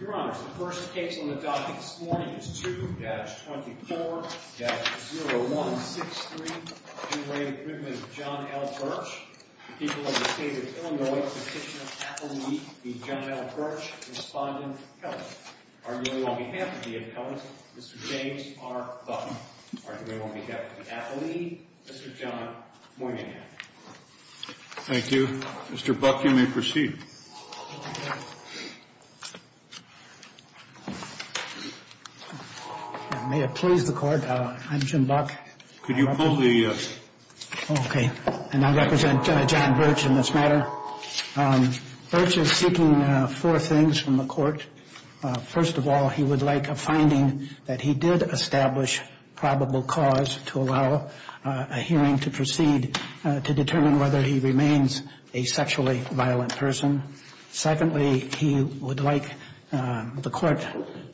Your Honor, the first case on the docket this morning is 2-24-0163, two-way imprisonment of John L. Birch. The people of the State of Illinois petitioner, Appellee John L. Birch, respondent, Kelly. Arguably on behalf of the appellant, Mr. James R. Buck. Arguably on behalf of the appellee, Mr. John Moynihan. Thank you. Mr. Buck, you may proceed. May it please the court, I'm Jim Buck. Could you pull the... Okay, and I represent John Birch in this matter. Birch is seeking four things from the court. First of all, he would like a finding that he did establish probable cause to allow a hearing to proceed to determine whether he remains a sexually violent person. Secondly, he would like the court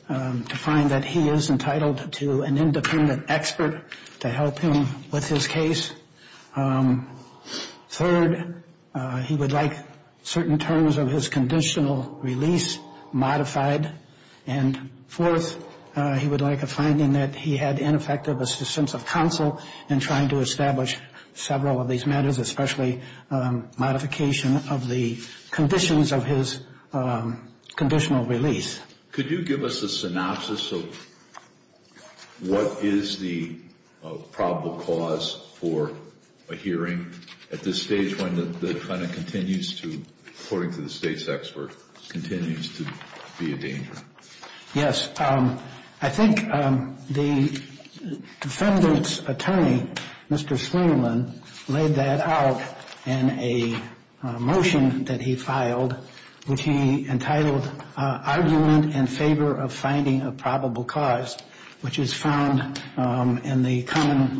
to find that he is entitled to an independent expert to help him with his case. Third, he would like certain terms of his conditional release modified. And fourth, he would like a finding that he had ineffective assistance of counsel in trying to establish several of these matters, especially modification of the conditions of his conditional release. Could you give us a synopsis of what is the probable cause for a hearing at this stage when the defendant continues to, according to the State's expert, continues to be a danger? Yes. I think the defendant's attorney, Mr. Sweenyman, laid that out in a motion that he filed, which he entitled, Argument in Favor of Finding a Probable Cause, which is found in the common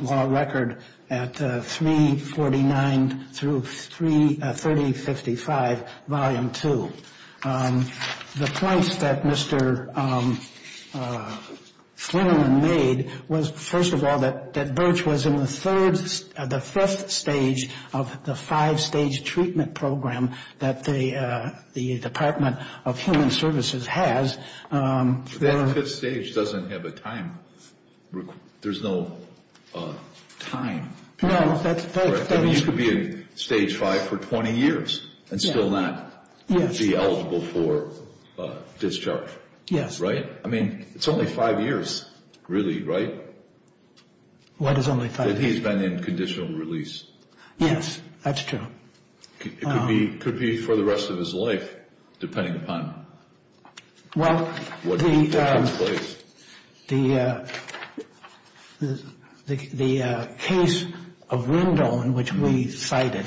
Sweenyman made was, first of all, that Birch was in the third, the fifth stage of the five-stage treatment program that the Department of Human Services has. That fifth stage doesn't have a time. There's no time. No. You could be in stage five for 20 years and still not be eligible for discharge. Yes. Right? I mean, it's only five years, really, right? What is only five years? That he's been in conditional release. Yes, that's true. It could be for the rest of his life, depending upon what takes place. The case of Wendell, in which we cited,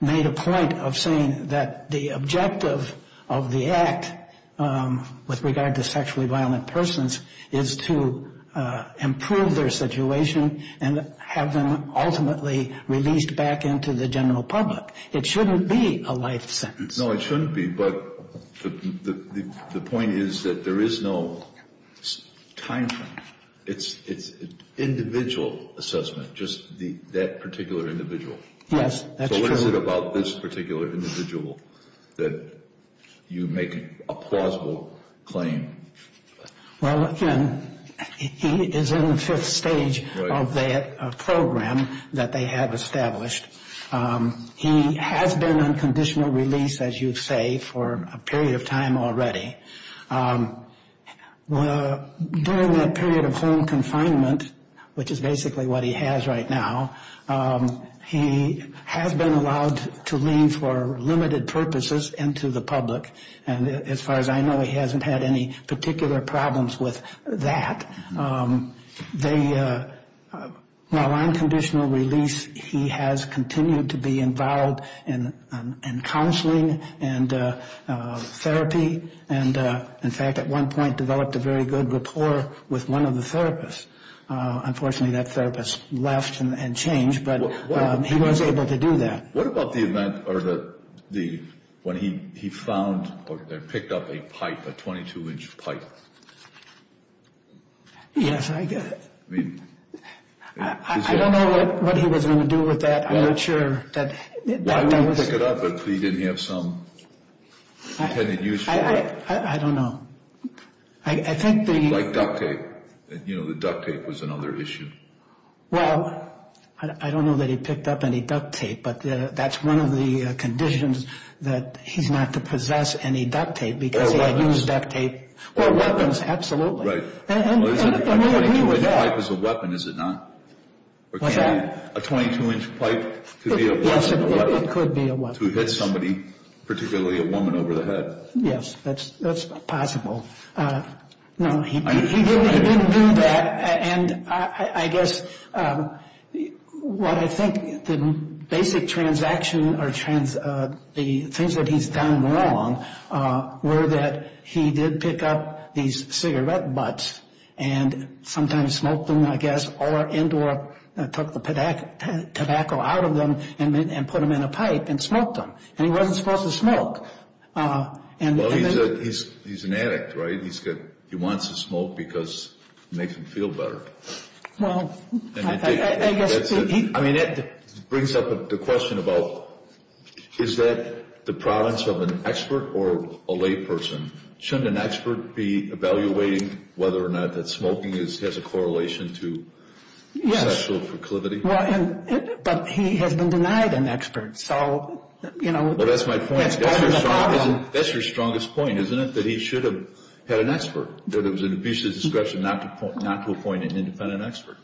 made a point of saying that the objective of the act with regard to sexually violent persons is to improve their situation and have them ultimately released back into the general public. It shouldn't be a life sentence. No, it shouldn't be, but the point is that there is no time frame. It's an individual assessment, just that particular individual. Yes, that's true. So what is it about this particular individual that you make a plausible claim? Well, again, he is in the fifth stage of that program that they have established. He has been on conditional release, as you say, for a period of time already. During that period of home confinement, which is basically what he has right now, he has been allowed to lean for limited purposes into the public. And as far as I know, he hasn't had any particular problems with that. While on conditional release, he has continued to be involved in counseling and therapy. And, in fact, at one point developed a very good rapport with one of the therapists. Unfortunately, that therapist left and changed, but he was able to do that. What about the event when he found or picked up a pipe, a 22-inch pipe? Yes, I get it. I don't know what he was going to do with that. I'm not sure. Why didn't he pick it up if he didn't have some intended use for it? I don't know. Like duct tape. You know, the duct tape was another issue. Well, I don't know that he picked up any duct tape, but that's one of the conditions that he's not to possess any duct tape because he had used duct tape. Or weapons. Or weapons, absolutely. And we agree with that. A 22-inch pipe is a weapon, is it not? What's that? A 22-inch pipe could be a weapon. Yes, it could be a weapon. To hit somebody, particularly a woman, over the head. Yes, that's possible. No, he didn't do that. And I guess what I think the basic transaction or the things that he's done wrong were that he did pick up these cigarette butts and sometimes smoked them, I guess, or took the tobacco out of them and put them in a pipe and smoked them. And he wasn't supposed to smoke. Well, he's an addict, right? He wants to smoke because it makes him feel better. I mean, that brings up the question about is that the province of an expert or a layperson? Shouldn't an expert be evaluating whether or not that smoking has a correlation to sexual proclivity? Yes, but he has been denied an expert. Well, that's my point. That's your strongest point, isn't it, that he should have had an expert, that it was an official's discretion not to appoint an independent expert?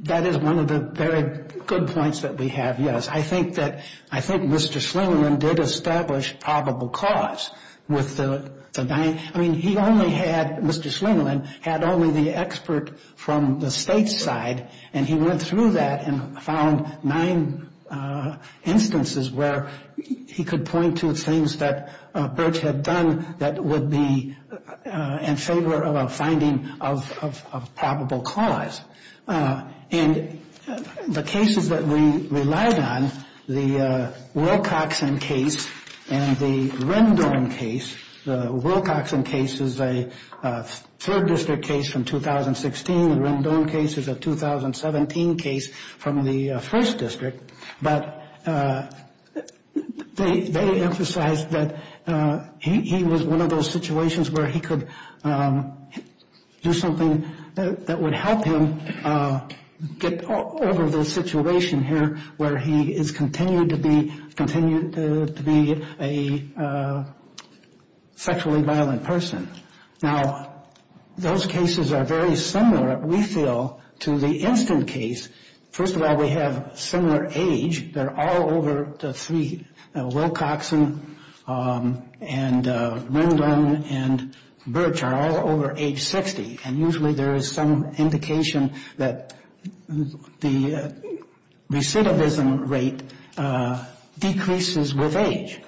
That is one of the very good points that we have, yes. I think Mr. Slingerland did establish probable cause with the nine. I mean, he only had, Mr. Slingerland had only the expert from the state's side, and he went through that and found nine instances where he could point to things that Birch had done that would be in favor of a finding of probable cause. And the cases that we relied on, the Wilcoxon case and the Rendon case, the Wilcoxon case is a third district case from 2016. The Rendon case is a 2017 case from the first district. But they emphasized that he was one of those situations where he could do something that would help him get over the situation here where he is continued to be a sexually violent person. Now, those cases are very similar, we feel, to the instant case. First of all, we have similar age. They're all over the three, Wilcoxon and Rendon and Birch are all over age 60. And usually there is some indication that the recidivism rate decreases with age.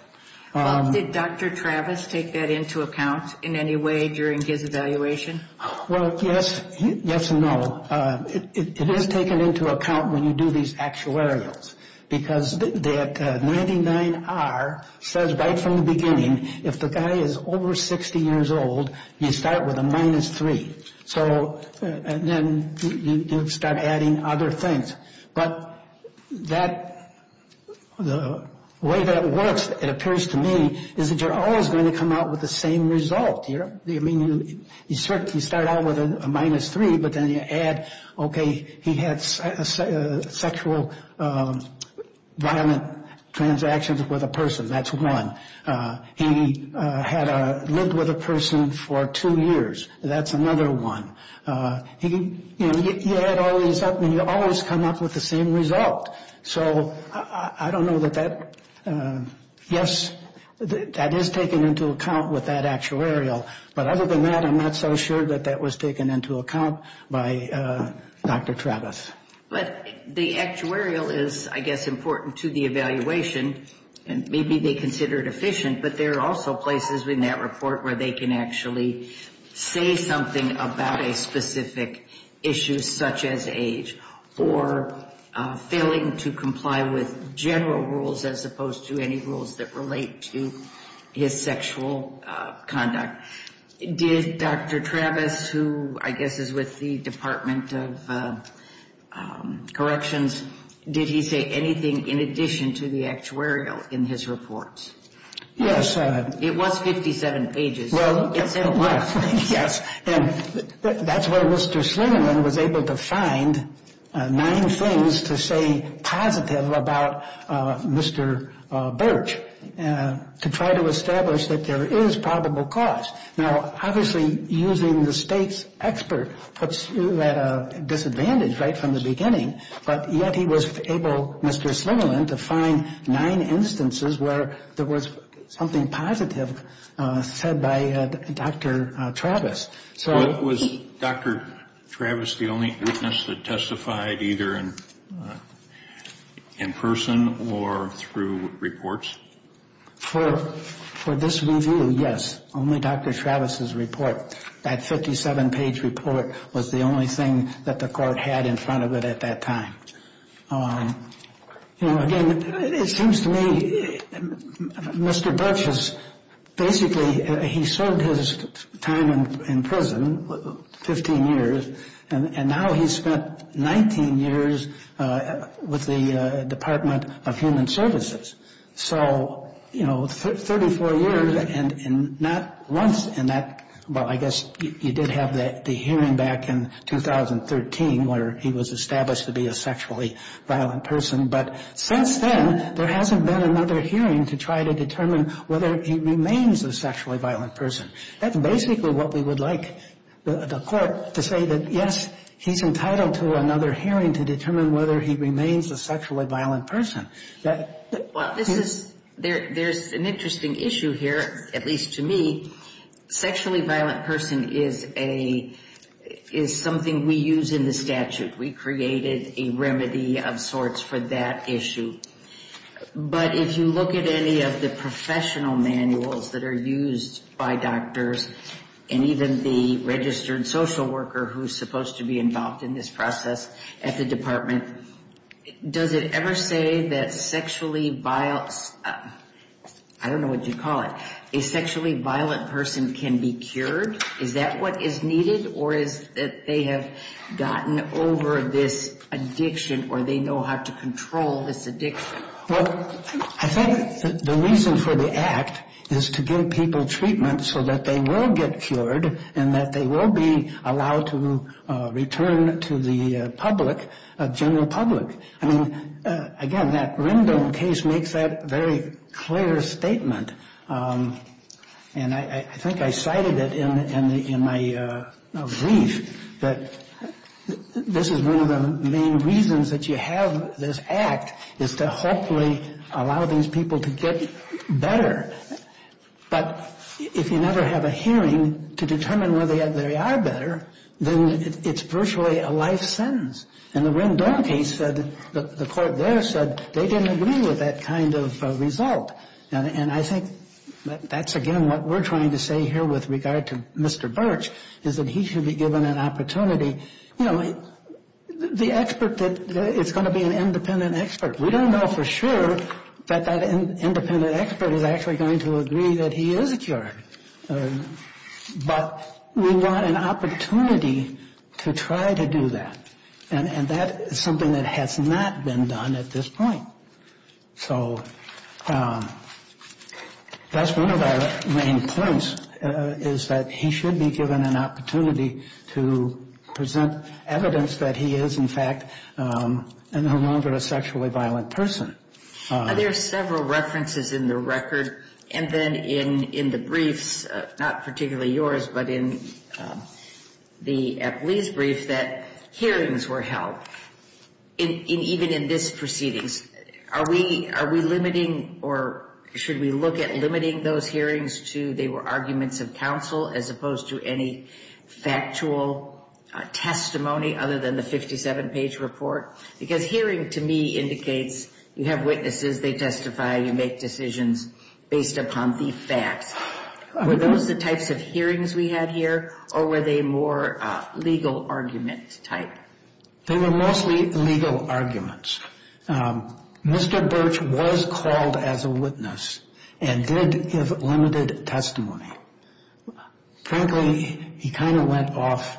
Did Dr. Travis take that into account in any way during his evaluation? Well, yes, yes and no. It is taken into account when you do these actuarials because that 99R says right from the beginning, if the guy is over 60 years old, you start with a minus three. And then you start adding other things. But the way that works, it appears to me, is that you're always going to come out with the same result. You start out with a minus three, but then you add, okay, he had sexual violent transactions with a person, that's one. He had lived with a person for two years, that's another one. You add all these up and you always come up with the same result. So I don't know that that, yes, that is taken into account with that actuarial. But other than that, I'm not so sure that that was taken into account by Dr. Travis. But the actuarial is, I guess, important to the evaluation, and maybe they consider it efficient, but there are also places in that report where they can actually say something about a specific issue such as age or failing to comply with general rules as opposed to any rules that relate to his sexual conduct. Did Dr. Travis, who I guess is with the Department of Corrections, did he say anything in addition to the actuarial in his report? Yes. It was 57 pages. Well, yes. And that's where Mr. Slingerman was able to find nine things to say positive about Mr. Birch, to try to establish that there is probable cause. Now, obviously, using the state's expert puts you at a disadvantage right from the beginning, but yet he was able, Mr. Slingerman, to find nine instances where there was something positive said by Dr. Travis. Was Dr. Travis the only witness that testified either in person or through reports? For this review, yes, only Dr. Travis's report. That 57-page report was the only thing that the court had in front of it at that time. You know, again, it seems to me Mr. Birch has basically served his time in prison, 15 years, and now he's spent 19 years with the Department of Human Services. So, you know, 34 years and not once in that, well, I guess you did have the hearing back in 2013 where he was established to be a sexually violent person. But since then, there hasn't been another hearing to try to determine whether he remains a sexually violent person. That's basically what we would like the court to say, that, yes, he's entitled to another hearing to determine whether he remains a sexually violent person. Well, there's an interesting issue here, at least to me. Sexually violent person is something we use in the statute. We created a remedy of sorts for that issue. But if you look at any of the professional manuals that are used by doctors and even the registered social worker who's supposed to be involved in this process at the department, does it ever say that sexually violent, I don't know what you'd call it, a sexually violent person can be cured? Is that what is needed or is it that they have gotten over this addiction or they know how to control this addiction? Well, I think the reason for the act is to give people treatment so that they will get cured and that they will be allowed to return to the public, general public. I mean, again, that Rendon case makes that very clear statement. And I think I cited it in my brief that this is one of the main reasons that you have this act is to hopefully allow these people to get better. But if you never have a hearing to determine whether they are better, then it's virtually a life sentence. And the Rendon case said, the court there said, they didn't agree with that kind of result. And I think that's, again, what we're trying to say here with regard to Mr. Birch is that he should be given an opportunity. You know, the expert, it's going to be an independent expert. We don't know for sure that that independent expert is actually going to agree that he is cured. But we want an opportunity to try to do that. And that is something that has not been done at this point. So that's one of our main points is that he should be given an opportunity to present evidence that he is, in fact, no longer a sexually violent person. There are several references in the record and then in the briefs, not particularly yours, but in the Epley's brief that hearings were held, even in this proceedings. Are we limiting or should we look at limiting those hearings to they were arguments of counsel as opposed to any factual testimony other than the 57-page report? Because hearing, to me, indicates you have witnesses. They testify. You make decisions based upon the facts. Were those the types of hearings we had here, or were they more legal argument type? They were mostly legal arguments. Mr. Birch was called as a witness and did give limited testimony. Frankly, he kind of went off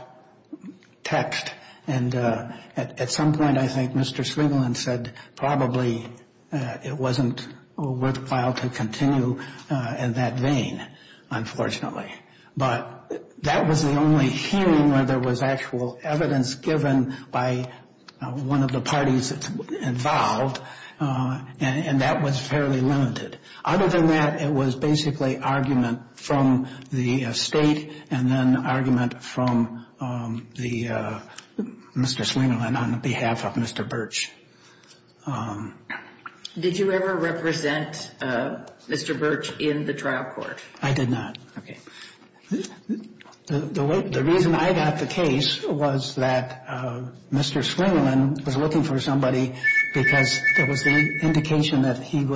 text. And at some point, I think Mr. Swiglin said probably it wasn't worthwhile to continue in that vein, unfortunately. But that was the only hearing where there was actual evidence given by one of the parties involved, and that was fairly limited. Other than that, it was basically argument from the state and then argument from Mr. Swiglin on behalf of Mr. Birch. Did you ever represent Mr. Birch in the trial court? I did not. Okay. The reason I got the case was that Mr. Swiglin was looking for somebody because there was the indication that he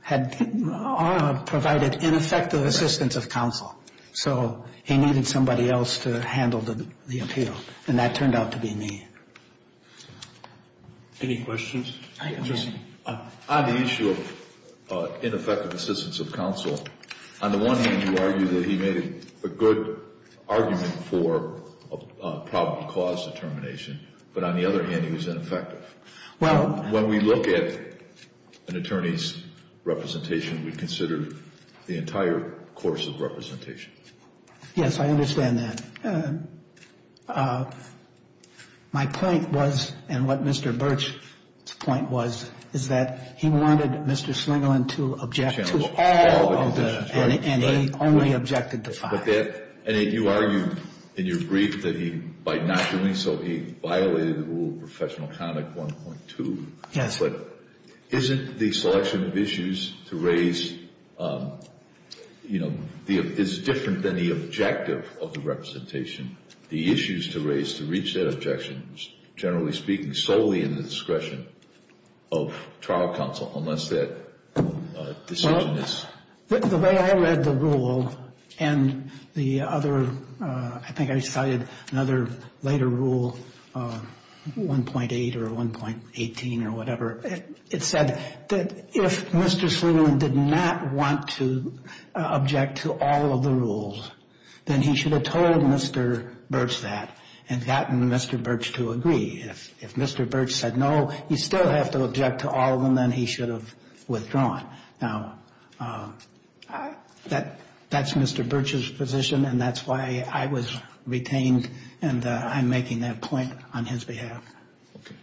had provided ineffective assistance of counsel. So he needed somebody else to handle the appeal, and that turned out to be me. Any questions? On the issue of ineffective assistance of counsel, on the one hand, you argue that he made a good argument for a probable cause determination. But on the other hand, he was ineffective. When we look at an attorney's representation, we consider the entire course of representation. Yes, I understand that. My point was, and what Mr. Birch's point was, is that he wanted Mr. Swiglin to object to all of the decisions, and he only objected to five. And you argued in your brief that he, by not doing so, he violated the rule of professional conduct 1.2. Yes. But isn't the selection of issues to raise, you know, is different than the objective of the representation? The issues to raise to reach that objection, generally speaking, solely in the discretion of trial counsel, unless that decision is… The way I read the rule and the other, I think I cited another later rule, 1.8 or 1.18 or whatever, it said that if Mr. Swiglin did not want to object to all of the rules, then he should have told Mr. Birch that and gotten Mr. Birch to agree. If Mr. Birch said, no, you still have to object to all of them, then he should have withdrawn. Now, that's Mr. Birch's position, and that's why I was retained, and I'm making that point on his behalf. Okay.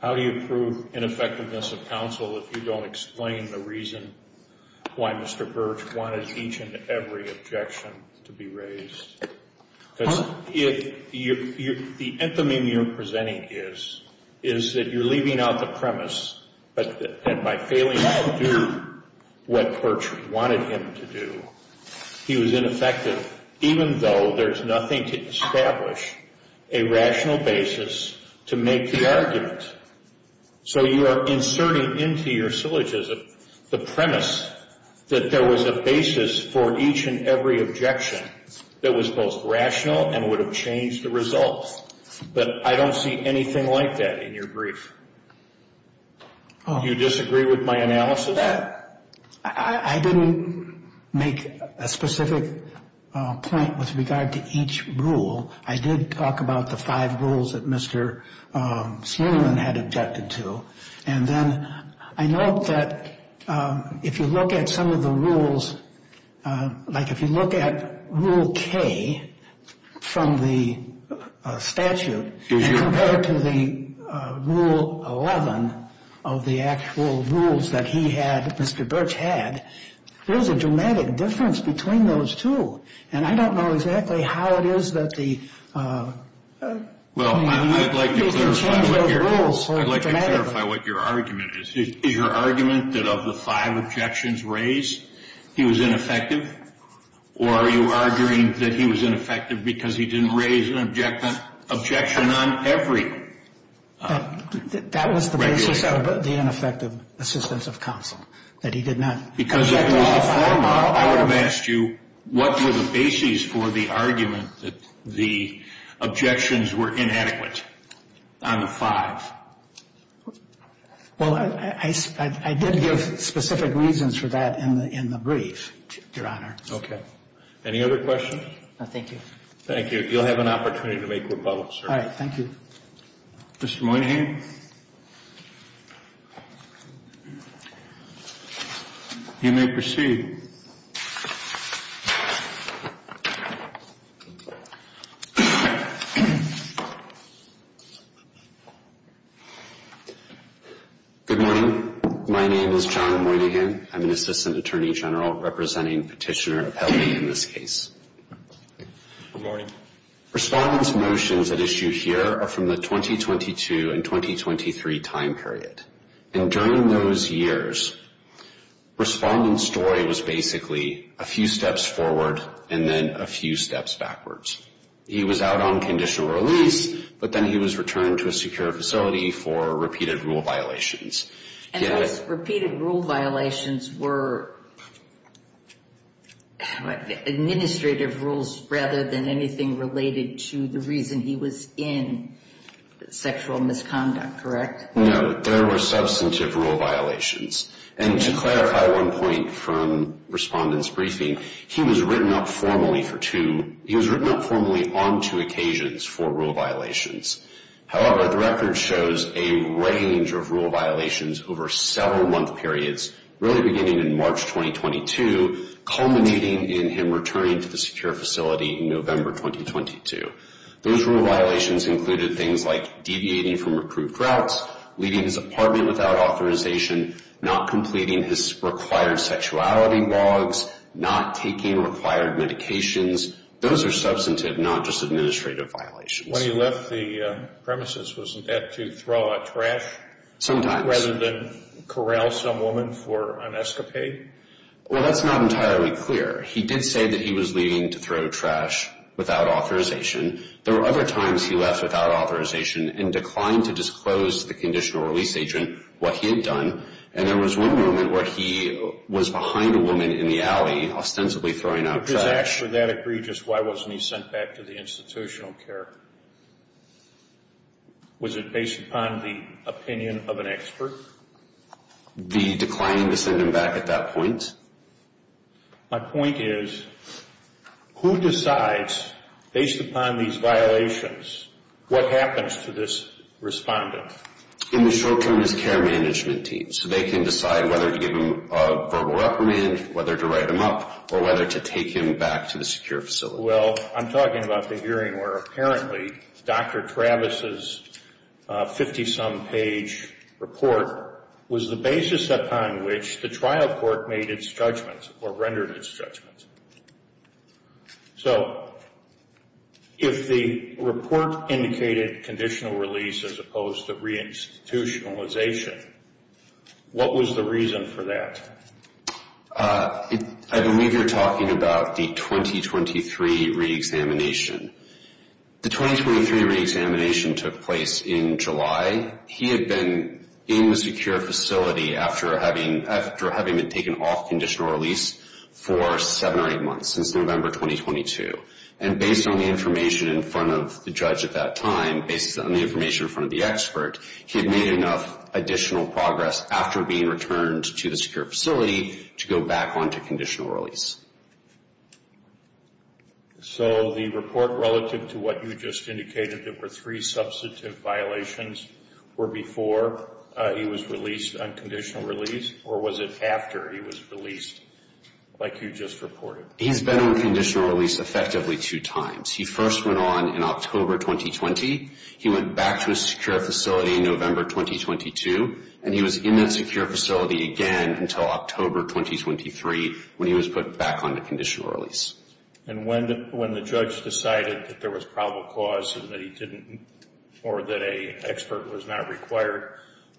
How do you prove ineffectiveness of counsel if you don't explain the reason why Mr. Birch wanted each and every objection to be raised? Because if you're – the anthem you're presenting is, is that you're leaving out the premise that by failing to do what Birch wanted him to do, he was ineffective, even though there's nothing to establish a rational basis to make the argument. So you are inserting into your syllogism the premise that there was a basis for each and every objection that was both rational and would have changed the result. But I don't see anything like that in your brief. Do you disagree with my analysis? I didn't make a specific point with regard to each rule. I did talk about the five rules that Mr. Suleman had objected to. And then I note that if you look at some of the rules, like if you look at Rule K from the statute compared to the Rule 11 of the actual rules that he had, Mr. Birch had, there's a dramatic difference between those two. And I don't know exactly how it is that the – Well, I'd like to clarify what your argument is. Is your argument that of the five objections raised, he was ineffective? Or are you arguing that he was ineffective because he didn't raise an objection on every regulation? That was the basis of the ineffective assistance of counsel, that he did not – I would have asked you, what were the bases for the argument that the objections were inadequate on the five? Well, I did give specific reasons for that in the brief, Your Honor. Okay. Any other questions? No, thank you. Thank you. You'll have an opportunity to make rebuttal, sir. All right. Thank you. Mr. Moynihan? You may proceed. Good morning. My name is John Moynihan. I'm an assistant attorney general representing Petitioner Appellate in this case. Good morning. Respondents' motions at issue here are from the 2022 and 2023 time period. And during those years, Respondent's story was basically a few steps forward and then a few steps backwards. He was out on conditional release, but then he was returned to a secure facility for repeated rule violations. And those repeated rule violations were administrative rules rather than anything related to the reason he was in sexual misconduct, correct? No, there were substantive rule violations. And to clarify one point from Respondent's briefing, he was written up formally for two – he was written up formally on two occasions for rule violations. However, the record shows a range of rule violations over several month periods, really beginning in March 2022, culminating in him returning to the secure facility in November 2022. Those rule violations included things like deviating from approved routes, leaving his apartment without authorization, not completing his required sexuality logs, not taking required medications. Those are substantive, not just administrative violations. When he left the premises, was that to throw out trash? Sometimes. Rather than corral some woman for an escapade? Well, that's not entirely clear. He did say that he was leaving to throw trash without authorization. There were other times he left without authorization and declined to disclose to the conditional release agent what he had done. And there was one moment where he was behind a woman in the alley, ostensibly throwing out trash. Would that agree just why wasn't he sent back to the institutional care? Was it based upon the opinion of an expert? The declining to send him back at that point? My point is, who decides, based upon these violations, what happens to this respondent? In the short term, his care management team. So they can decide whether to give him a verbal reprimand, whether to write him up, or whether to take him back to the secure facility. Well, I'm talking about the hearing where apparently Dr. Travis's 50-some page report was the basis upon which the trial court made its judgments or rendered its judgments. So if the report indicated conditional release as opposed to reinstitutionalization, what was the reason for that? I believe you're talking about the 2023 reexamination. The 2023 reexamination took place in July. He had been in the secure facility after having been taken off conditional release for seven or eight months, since November 2022. And based on the information in front of the judge at that time, based on the information in front of the expert, he had made enough additional progress after being returned to the secure facility to go back onto conditional release. So the report relative to what you just indicated, there were three substantive violations, were before he was released on conditional release, or was it after he was released, like you just reported? He's been on conditional release effectively two times. He first went on in October 2020, he went back to a secure facility in November 2022, and he was in that secure facility again until October 2023 when he was put back onto conditional release. And when the judge decided that there was probable cause or that an expert was not required,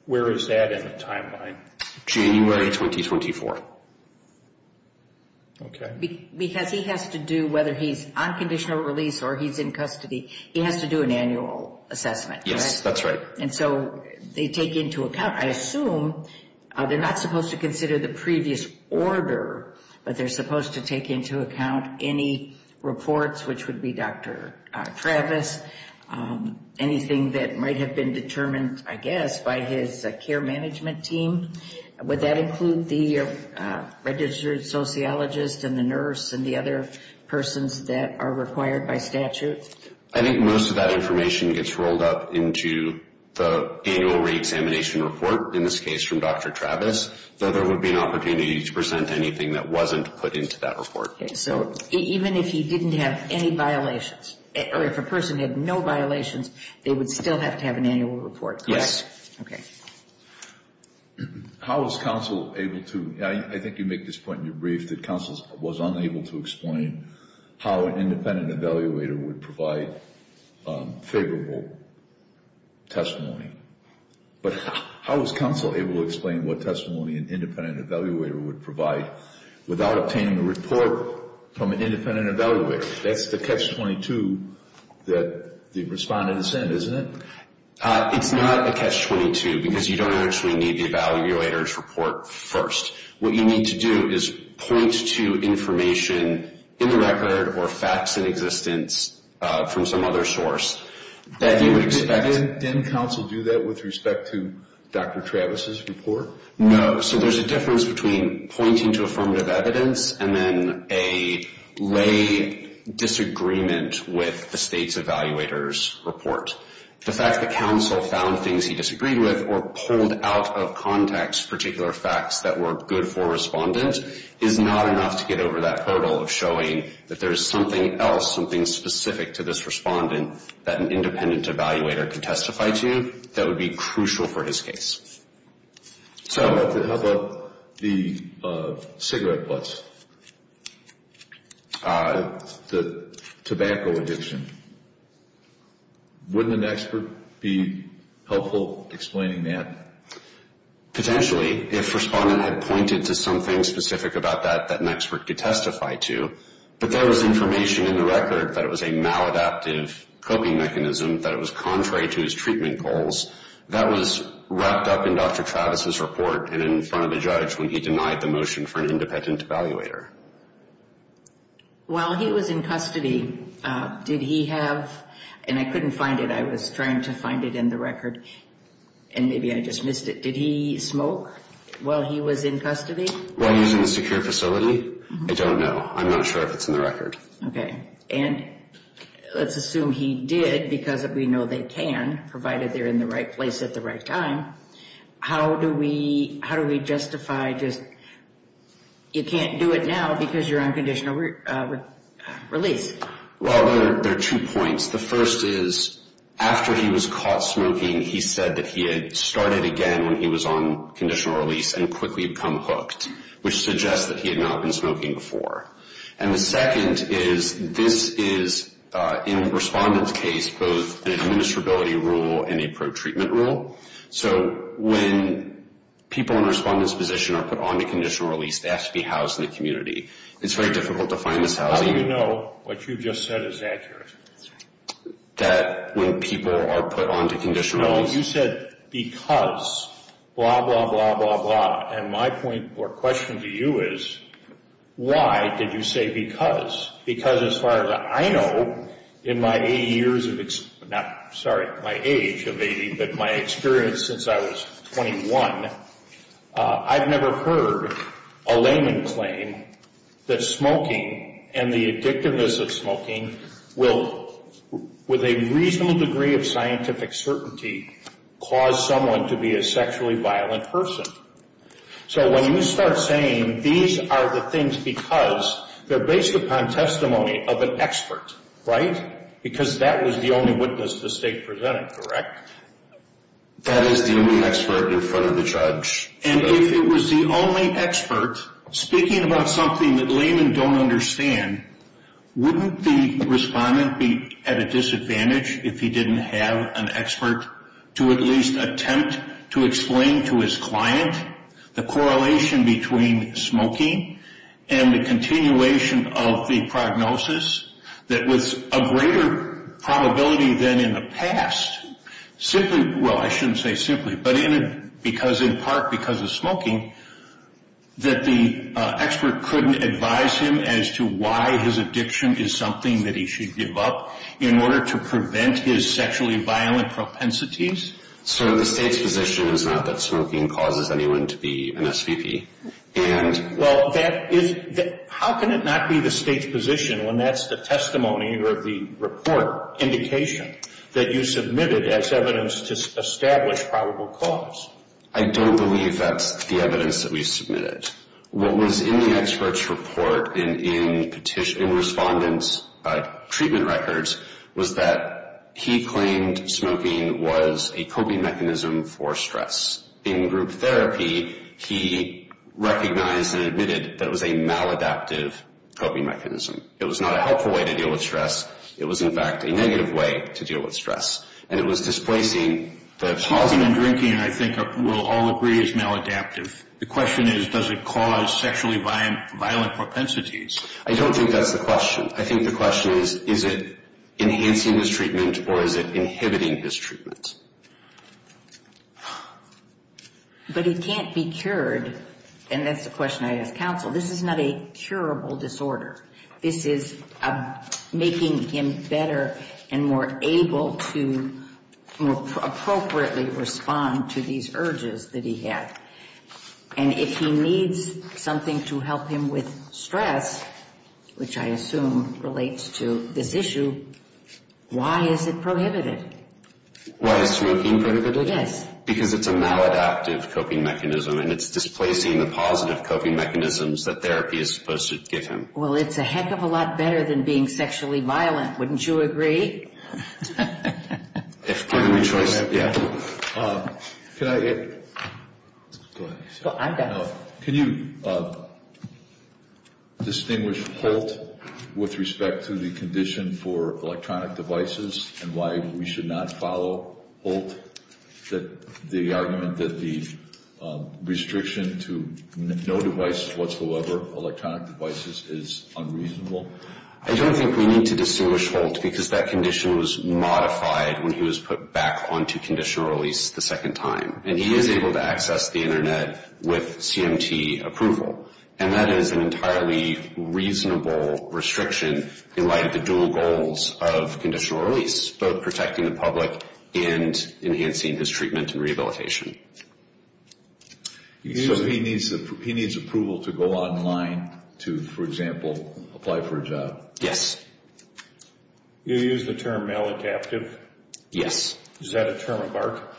where is that in the timeline? January 2024. Okay. Because he has to do, whether he's on conditional release or he's in custody, he has to do an annual assessment. Yes, that's right. And so they take into account, I assume they're not supposed to consider the previous order, but they're supposed to take into account any reports, which would be Dr. Travis, anything that might have been determined, I guess, by his care management team. Would that include the registered sociologist and the nurse and the other persons that are required by statute? I think most of that information gets rolled up into the annual reexamination report, in this case from Dr. Travis, though there would be an opportunity to present anything that wasn't put into that report. So even if he didn't have any violations, or if a person had no violations, they would still have to have an annual report, correct? Yes. Okay. How is counsel able to, I think you make this point in your brief, that counsel was unable to explain how an independent evaluator would provide favorable testimony. But how is counsel able to explain what testimony an independent evaluator would provide without obtaining a report from an independent evaluator? That's the catch-22 that the respondent is in, isn't it? It's not a catch-22 because you don't actually need the evaluator's report first. What you need to do is point to information in the record or facts in existence from some other source that you would expect. Didn't counsel do that with respect to Dr. Travis' report? No. So there's a difference between pointing to affirmative evidence and then a lay disagreement with the state's evaluator's report. The fact that counsel found things he disagreed with or pulled out of context particular facts that were good for a respondent is not enough to get over that hurdle of showing that there's something else, something specific to this respondent that an independent evaluator can testify to that would be crucial for his case. So how about the cigarette butts, the tobacco addiction? Wouldn't an expert be helpful explaining that? Potentially, if respondent had pointed to something specific about that that an expert could testify to. But there was information in the record that it was a maladaptive coping mechanism, that it was contrary to his treatment goals. That was wrapped up in Dr. Travis' report and in front of a judge when he denied the motion for an independent evaluator. While he was in custody, did he have, and I couldn't find it, I was trying to find it in the record, and maybe I just missed it, did he smoke while he was in custody? While he was in a secure facility? I don't know. I'm not sure if it's in the record. Okay. And let's assume he did because we know they can, provided they're in the right place at the right time. How do we justify just, you can't do it now because you're on conditional release? Well, there are two points. The first is, after he was caught smoking, he said that he had started again when he was on conditional release and quickly become hooked, which suggests that he had not been smoking before. And the second is, this is, in a respondent's case, both an administrability rule and a pro-treatment rule. So when people in a respondent's position are put on to conditional release, they have to be housed in the community. It's very difficult to find this housing. How do you know what you've just said is accurate? That when people are put on to conditional release. No, you said because, blah, blah, blah, blah, blah. And my point or question to you is, why did you say because? Because as far as I know, in my eight years of, sorry, my age of 80, but my experience since I was 21, I've never heard a layman claim that smoking and the addictiveness of smoking will, with a reasonable degree of scientific certainty, cause someone to be a sexually violent person. So when you start saying these are the things because, they're based upon testimony of an expert, right? Because that was the only witness the state presented, correct? That is the only expert in front of the judge. And if it was the only expert speaking about something that laymen don't understand, wouldn't the respondent be at a disadvantage if he didn't have an expert to at least attempt to explain to his client the correlation between smoking and the continuation of the prognosis, that with a greater probability than in the past, simply, well, I shouldn't say simply, but in part because of smoking, that the expert couldn't advise him as to why his addiction is something that he should give up in order to prevent his sexually violent propensities? So the state's position is not that smoking causes anyone to be an SVP? Well, that is, how can it not be the state's position when that's the testimony or the report indication that you submitted as evidence to establish probable cause? I don't believe that's the evidence that we submitted. What was in the expert's report in respondent's treatment records was that he claimed smoking was a coping mechanism for stress. In group therapy, he recognized and admitted that it was a maladaptive coping mechanism. It was not a helpful way to deal with stress. It was, in fact, a negative way to deal with stress, and it was displacing the positive. Smoking and drinking, I think, we'll all agree is maladaptive. The question is, does it cause sexually violent propensities? I don't think that's the question. I think the question is, is it enhancing his treatment or is it inhibiting his treatment? But it can't be cured, and that's the question I ask counsel. This is not a curable disorder. This is making him better and more able to appropriately respond to these urges that he had. And if he needs something to help him with stress, which I assume relates to this issue, why is it prohibited? Why is smoking prohibited? Yes. Because it's a maladaptive coping mechanism, and it's displacing the positive coping mechanisms that therapy is supposed to give him. Well, it's a heck of a lot better than being sexually violent. Wouldn't you agree? If given the choice, yeah. Can I get – go ahead. I've got it. Can you distinguish Holt with respect to the condition for electronic devices and why we should not follow Holt, the argument that the restriction to no devices whatsoever, electronic devices, is unreasonable? I don't think we need to distinguish Holt because that condition was modified when he was put back onto conditional release the second time. And he is able to access the Internet with CMT approval. And that is an entirely reasonable restriction in light of the dual goals of conditional release, both protecting the public and enhancing his treatment and rehabilitation. So he needs approval to go online to, for example, apply for a job? Yes. You use the term maladaptive? Yes. Is that a term of art?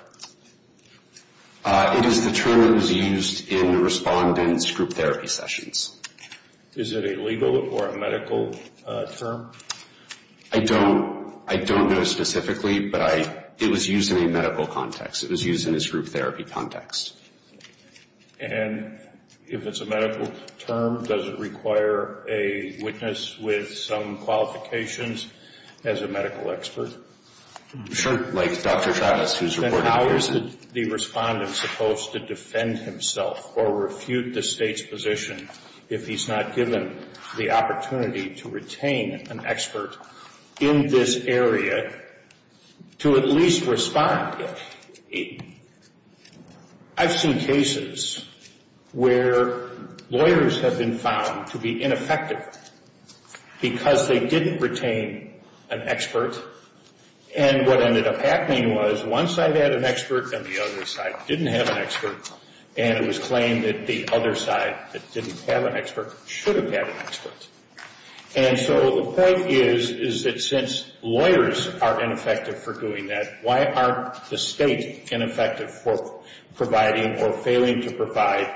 It is the term that was used in the respondent's group therapy sessions. Is it a legal or a medical term? I don't know specifically, but it was used in a medical context. It was used in his group therapy context. And if it's a medical term, does it require a witness with some qualifications as a medical expert? Sure. Like Dr. Travis, who is a reporter. Then how is the respondent supposed to defend himself or refute the State's position if he's not given the opportunity to retain an expert in this area to at least respond? I've seen cases where lawyers have been found to be ineffective because they didn't retain an expert. And what ended up happening was one side had an expert and the other side didn't have an expert. And it was claimed that the other side that didn't have an expert should have had an expert. And so the point is that since lawyers are ineffective for doing that, why aren't the State ineffective for providing or failing to provide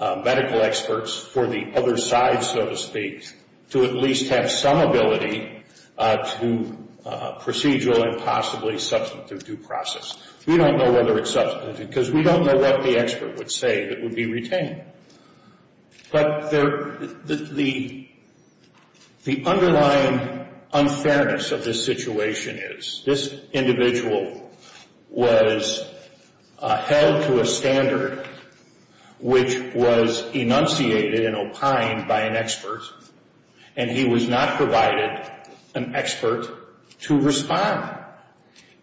medical experts for the other side, so to speak, to at least have some ability to procedural and possibly substantive due process? We don't know whether it's substantive because we don't know what the expert would say that would be retained. But the underlying unfairness of this situation is this individual was held to a standard which was enunciated and opined by an expert, and he was not provided an expert to respond.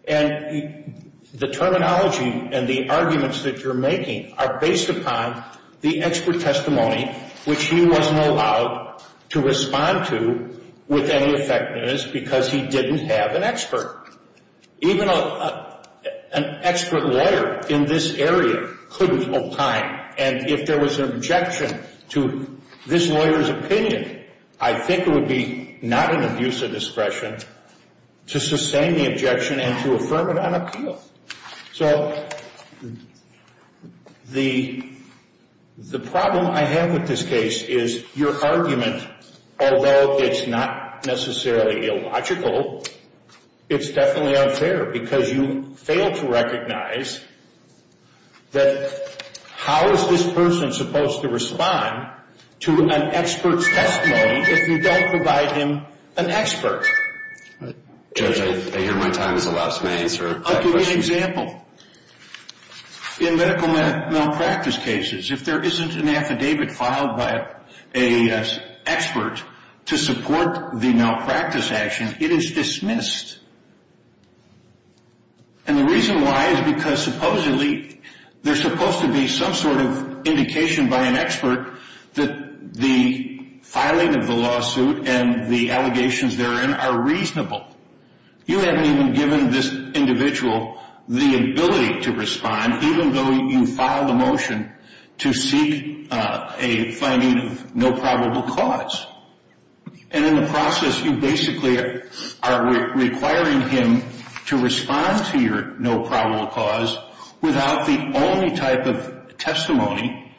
And the terminology and the arguments that you're making are based upon the expert testimony which he wasn't allowed to respond to with any effectiveness because he didn't have an expert. Even an expert lawyer in this area couldn't opine. And if there was an objection to this lawyer's opinion, I think it would be not an abuse of discretion to sustain the objection and to affirm it on appeal. So the problem I have with this case is your argument, although it's not necessarily illogical, it's definitely unfair because you fail to recognize that how is this person supposed to respond to an expert's testimony if you don't provide him an expert? Judge, I hear my time is allowed, so may I answer a question? I'll give you an example. In medical malpractice cases, if there isn't an affidavit filed by an expert to support the malpractice action, it is dismissed. And the reason why is because supposedly there's supposed to be some sort of indication by an expert that the filing of the lawsuit and the allegations therein are reasonable. You haven't even given this individual the ability to respond, even though you filed a motion to seek a finding of no probable cause. And in the process, you basically are requiring him to respond to your no probable cause without the only type of testimony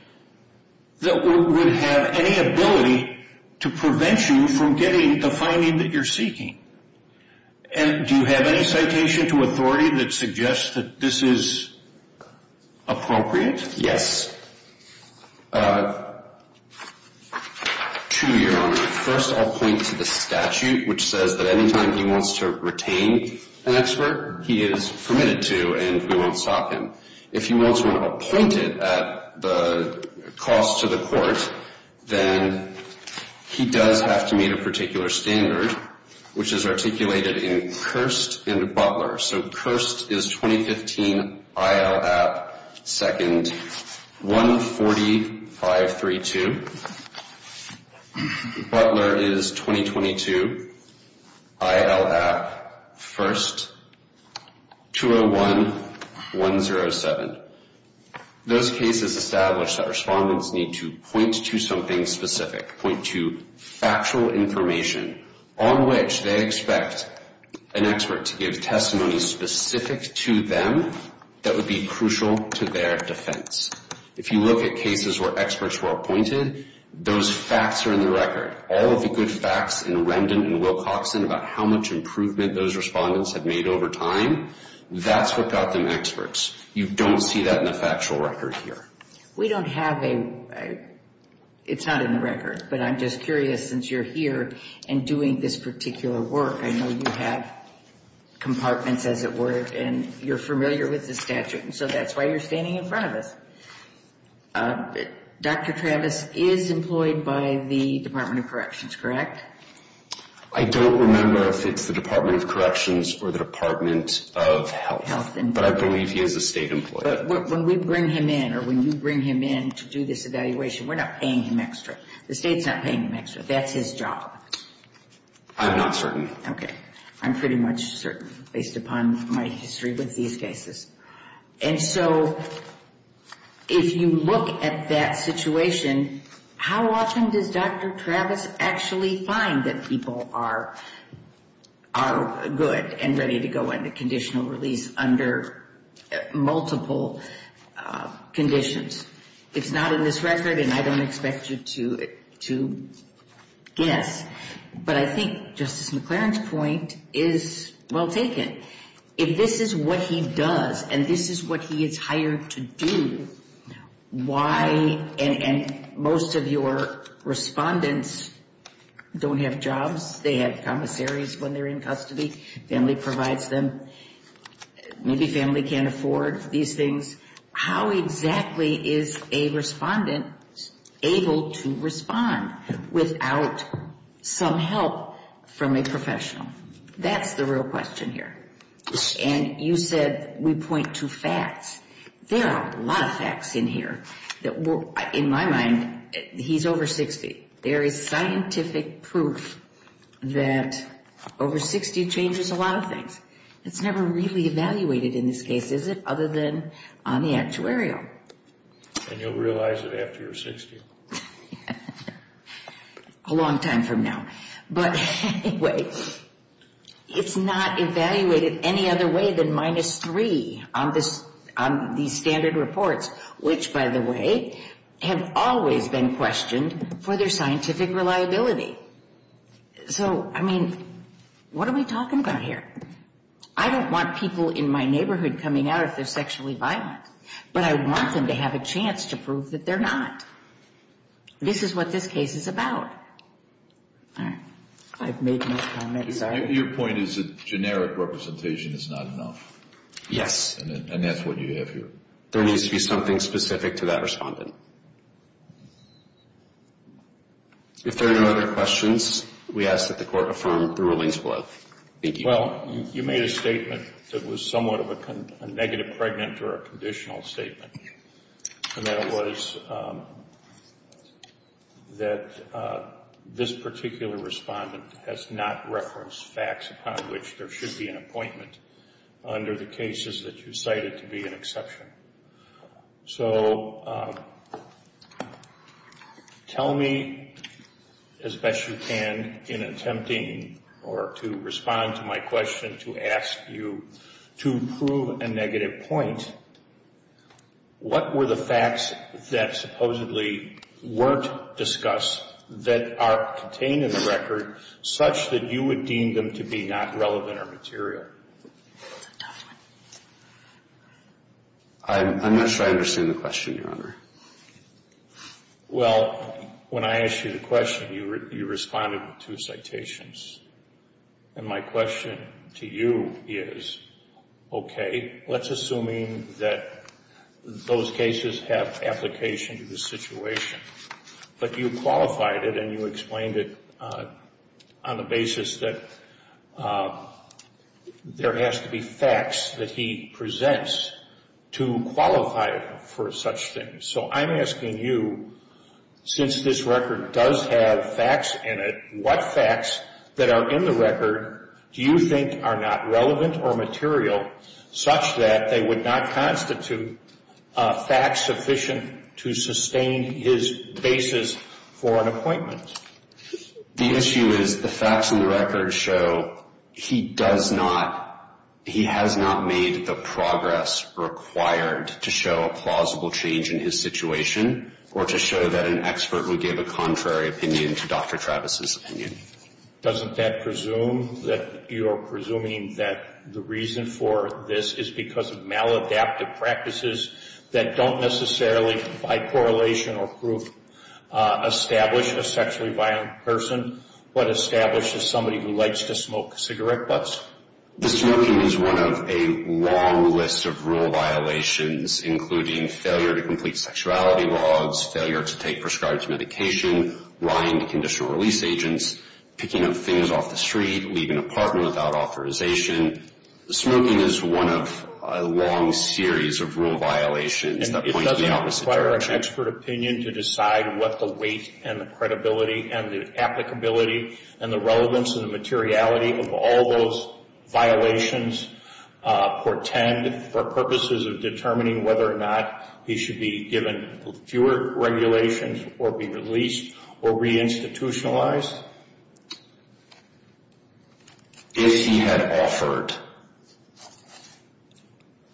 that would have any ability to prevent you from getting the finding that you're seeking. And do you have any citation to authority that suggests that this is appropriate? Yes. Two, Your Honor. First, I'll point to the statute, which says that any time he wants to retain an expert, he is permitted to and we won't stop him. If he wants one appointed at the cost to the court, then he does have to meet a particular standard, which is articulated in Kirst and Butler. So Kirst is 2015, IL App, 2nd, 14532. Butler is 2022, IL App, 1st, 201107. Those cases establish that respondents need to point to something specific, point to factual information on which they expect an expert to give testimony specific to them that would be crucial to their defense. If you look at cases where experts were appointed, those facts are in the record. All of the good facts in Remden and Wilcoxon about how much improvement those respondents have made over time, that's what got them experts. You don't see that in the factual record here. We don't have a – it's not in the record, but I'm just curious, since you're here and doing this particular work, I know you have compartments, as it were, and you're familiar with the statute, and so that's why you're standing in front of us. Dr. Travis is employed by the Department of Corrections, correct? I don't remember if it's the Department of Corrections or the Department of Health, but I believe he is a state employee. But when we bring him in or when you bring him in to do this evaluation, we're not paying him extra. The state's not paying him extra. That's his job. I'm not certain. Okay. I'm pretty much certain based upon my history with these cases. And so if you look at that situation, how often does Dr. Travis actually find that people are good and ready to go into conditional release under multiple conditions? It's not in this record, and I don't expect you to guess, but I think Justice McLaren's point is well taken. If this is what he does and this is what he is hired to do, why – and most of your respondents don't have jobs. They have commissaries when they're in custody. Family provides them. Maybe family can't afford these things. How exactly is a respondent able to respond without some help from a professional? That's the real question here. And you said we point to facts. There are a lot of facts in here that will – in my mind, he's over 60. There is scientific proof that over 60 changes a lot of things. It's never really evaluated in this case, is it, other than on the actuarial. And you'll realize it after you're 60? A long time from now. But anyway, it's not evaluated any other way than minus three on these standard reports, which, by the way, have always been questioned for their scientific reliability. So, I mean, what are we talking about here? I don't want people in my neighborhood coming out if they're sexually violent, but I want them to have a chance to prove that they're not. This is what this case is about. I've made my comment. Your point is that generic representation is not enough. Yes. And that's what you have here. There needs to be something specific to that respondent. If there are no other questions, we ask that the Court affirm the rulings below. Thank you. Well, you made a statement that was somewhat of a negative pregnant or a conditional statement. And that was that this particular respondent has not referenced facts upon which there should be an appointment under the cases that you cited to be an exception. So, tell me as best you can in attempting or to respond to my question to ask you to prove a negative point. What were the facts that supposedly weren't discussed that are contained in the record such that you would deem them to be not relevant or material? That's a tough one. I'm not sure I understand the question, Your Honor. Well, when I asked you the question, you responded with two citations. And my question to you is, okay, let's assume that those cases have application to the situation, but you qualified it and you explained it on the basis that there has to be facts that he presents to qualify for such things. So I'm asking you, since this record does have facts in it, what facts that are in the record do you think are not relevant or material such that they would not constitute facts sufficient to sustain his basis for an appointment? The issue is the facts in the record show he does not, he has not made the progress required to show a plausible change in his situation or to show that an expert would give a contrary opinion to Dr. Travis's opinion. Doesn't that presume that you're presuming that the reason for this is because of maladaptive practices that don't necessarily, by correlation or proof, establish a sexually violent person, but establishes somebody who likes to smoke cigarette butts? The smoking is one of a long list of rule violations, including failure to complete sexuality logs, failure to take prescribed medication, lying to conditional release agents, picking up things off the street, leaving an apartment without authorization. The smoking is one of a long series of rule violations that point to the opposite direction. And it doesn't require an expert opinion to decide what the weight and the credibility and the applicability and the relevance and the materiality of all those violations portend for purposes of determining whether or not he should be given fewer regulations or be released or re-institutionalized. If he had offered...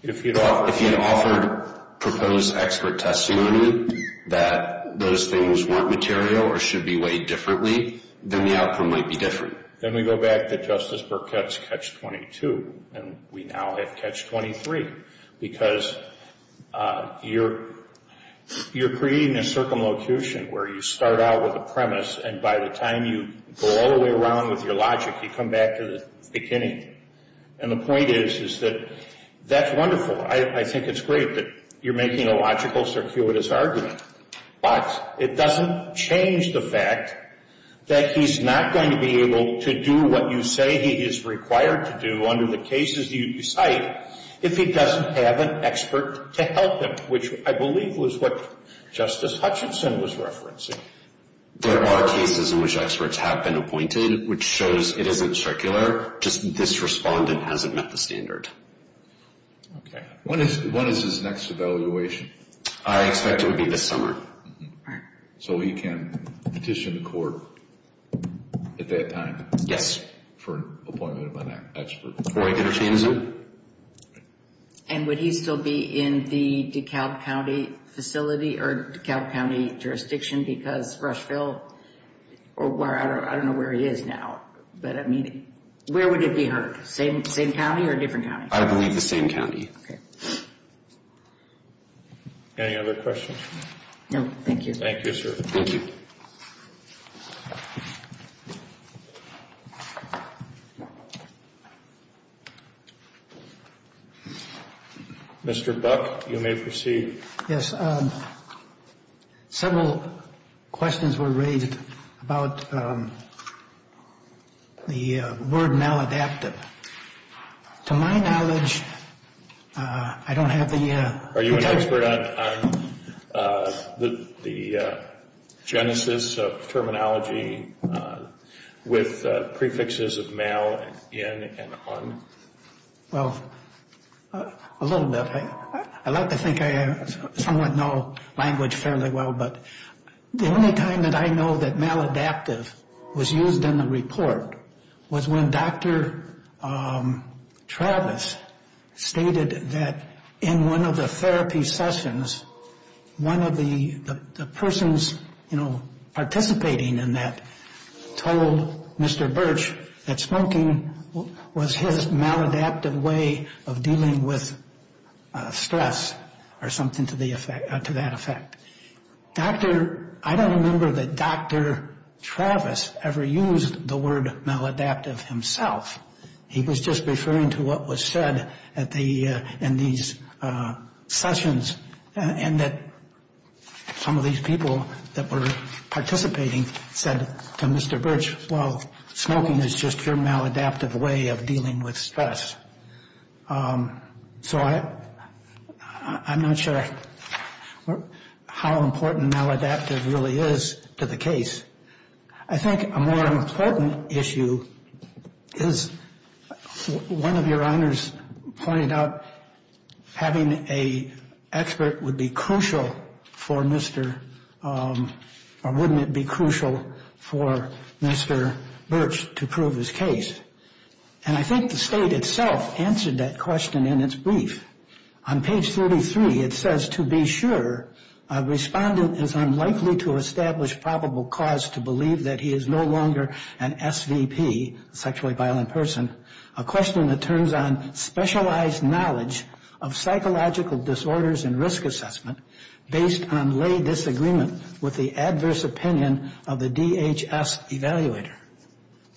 If he had offered... If he had offered proposed expert testimony that those things weren't material or should be weighed differently, then the outcome might be different. Then we go back to Justice Burkett's catch-22, and we now have catch-23 because you're creating a circumlocution where you start out with a premise and by the time you go all the way around with your logic, you come back to the beginning. And the point is, is that that's wonderful. I think it's great that you're making a logical, circuitous argument. But it doesn't change the fact that he's not going to be able to do what you say he is required to do under the cases you cite if he doesn't have an expert to help him, which I believe was what Justice Hutchinson was referencing. There are cases in which experts have been appointed, which shows it isn't circular. Just this respondent hasn't met the standard. When is his next evaluation? I expect it would be this summer. So he can petition the court at that time? Yes. Next for appointment of an expert. Roy Hutchinson? And would he still be in the DeKalb County facility or DeKalb County jurisdiction because Rushville? I don't know where he is now, but where would it be heard? Same county or different county? I believe the same county. Any other questions? No, thank you. Thank you, sir. Thank you. Thank you. Mr. Buck, you may proceed. Several questions were raised about the word maladaptive. To my knowledge, I don't have the... Are you an expert on the genesis of terminology with prefixes of mal-, in-, and un-? Well, a little bit. I like to think I somewhat know language fairly well, but the only time that I know that maladaptive was used in the report was when Dr. Travis stated that in one of the therapy sessions, one of the persons, you know, participating in that told Mr. Birch that smoking was his maladaptive way of dealing with stress or something to that effect. I don't remember that Dr. Travis ever used the word maladaptive himself. He was just referring to what was said in these sessions and that some of these people that were participating said to Mr. Birch, well, smoking is just your maladaptive way of dealing with stress. So I'm not sure how important maladaptive really is to the case. I think a more important issue is one of your honors pointed out having an expert would be crucial for Mr. or wouldn't it be crucial for Mr. Birch to prove his case. And I think the state itself answered that question in its brief. On page 33, it says, To be sure, a respondent is unlikely to establish probable cause to believe that he is no longer an SVP, sexually violent person, a question that turns on specialized knowledge of psychological disorders and risk assessment based on lay disagreement with the adverse opinion of the DHS evaluator.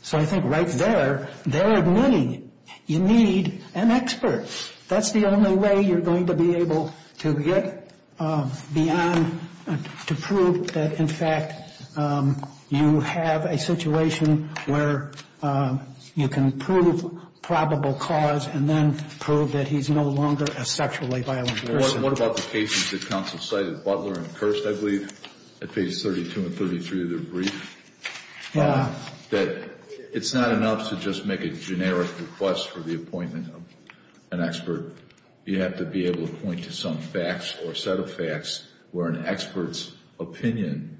So I think right there, they're admitting you need an expert. That's the only way you're going to be able to get beyond to prove that, in fact, you have a situation where you can prove probable cause and then prove that he's no longer a sexually violent person. What about the cases that counsel cited? Butler and Kirst, I believe, at page 32 and 33 of their brief. Yeah. That it's not enough to just make a generic request for the appointment of an expert. You have to be able to point to some facts or set of facts where an expert's opinion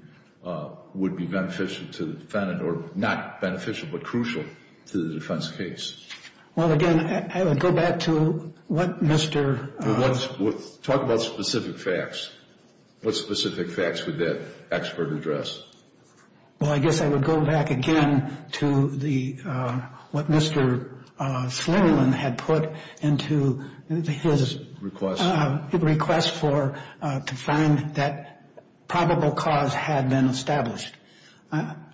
would be beneficial to the defendant or not beneficial but crucial to the defense case. Well, again, I would go back to what Mr. Talk about specific facts. What specific facts would that expert address? Well, I guess I would go back again to what Mr. Slymulin had put into his request for to find that probable cause had been established.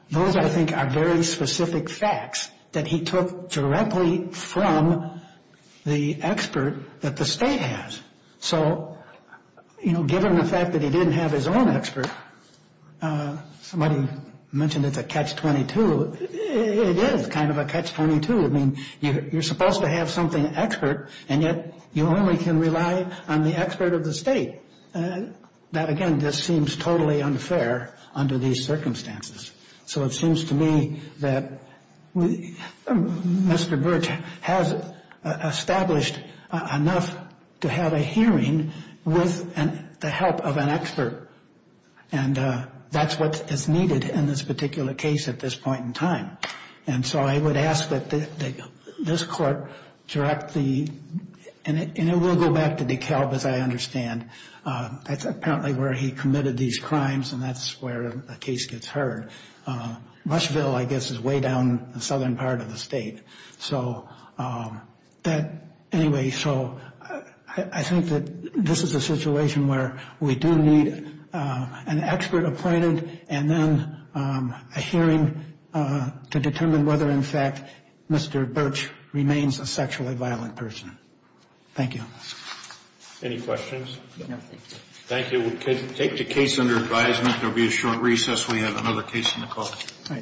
Those, I think, are very specific facts that he took directly from the expert that the state has. So, you know, given the fact that he didn't have his own expert, somebody mentioned it's a catch-22. It is kind of a catch-22. I mean, you're supposed to have something expert, and yet you only can rely on the expert of the state. Now, again, this seems totally unfair under these circumstances. So it seems to me that Mr. Birch has established enough to have a hearing with the help of an expert. And that's what is needed in this particular case at this point in time. And so I would ask that this court direct the – and it will go back to DeKalb, as I understand. That's apparently where he committed these crimes, and that's where the case gets heard. Rushville, I guess, is way down the southern part of the state. So that – anyway, so I think that this is a situation where we do need an expert appointed and then a hearing to determine whether, in fact, Mr. Birch remains a sexually violent person. Thank you. Any questions? No. Thank you. We'll take the case under advisement. There will be a short recess when we have another case in the court.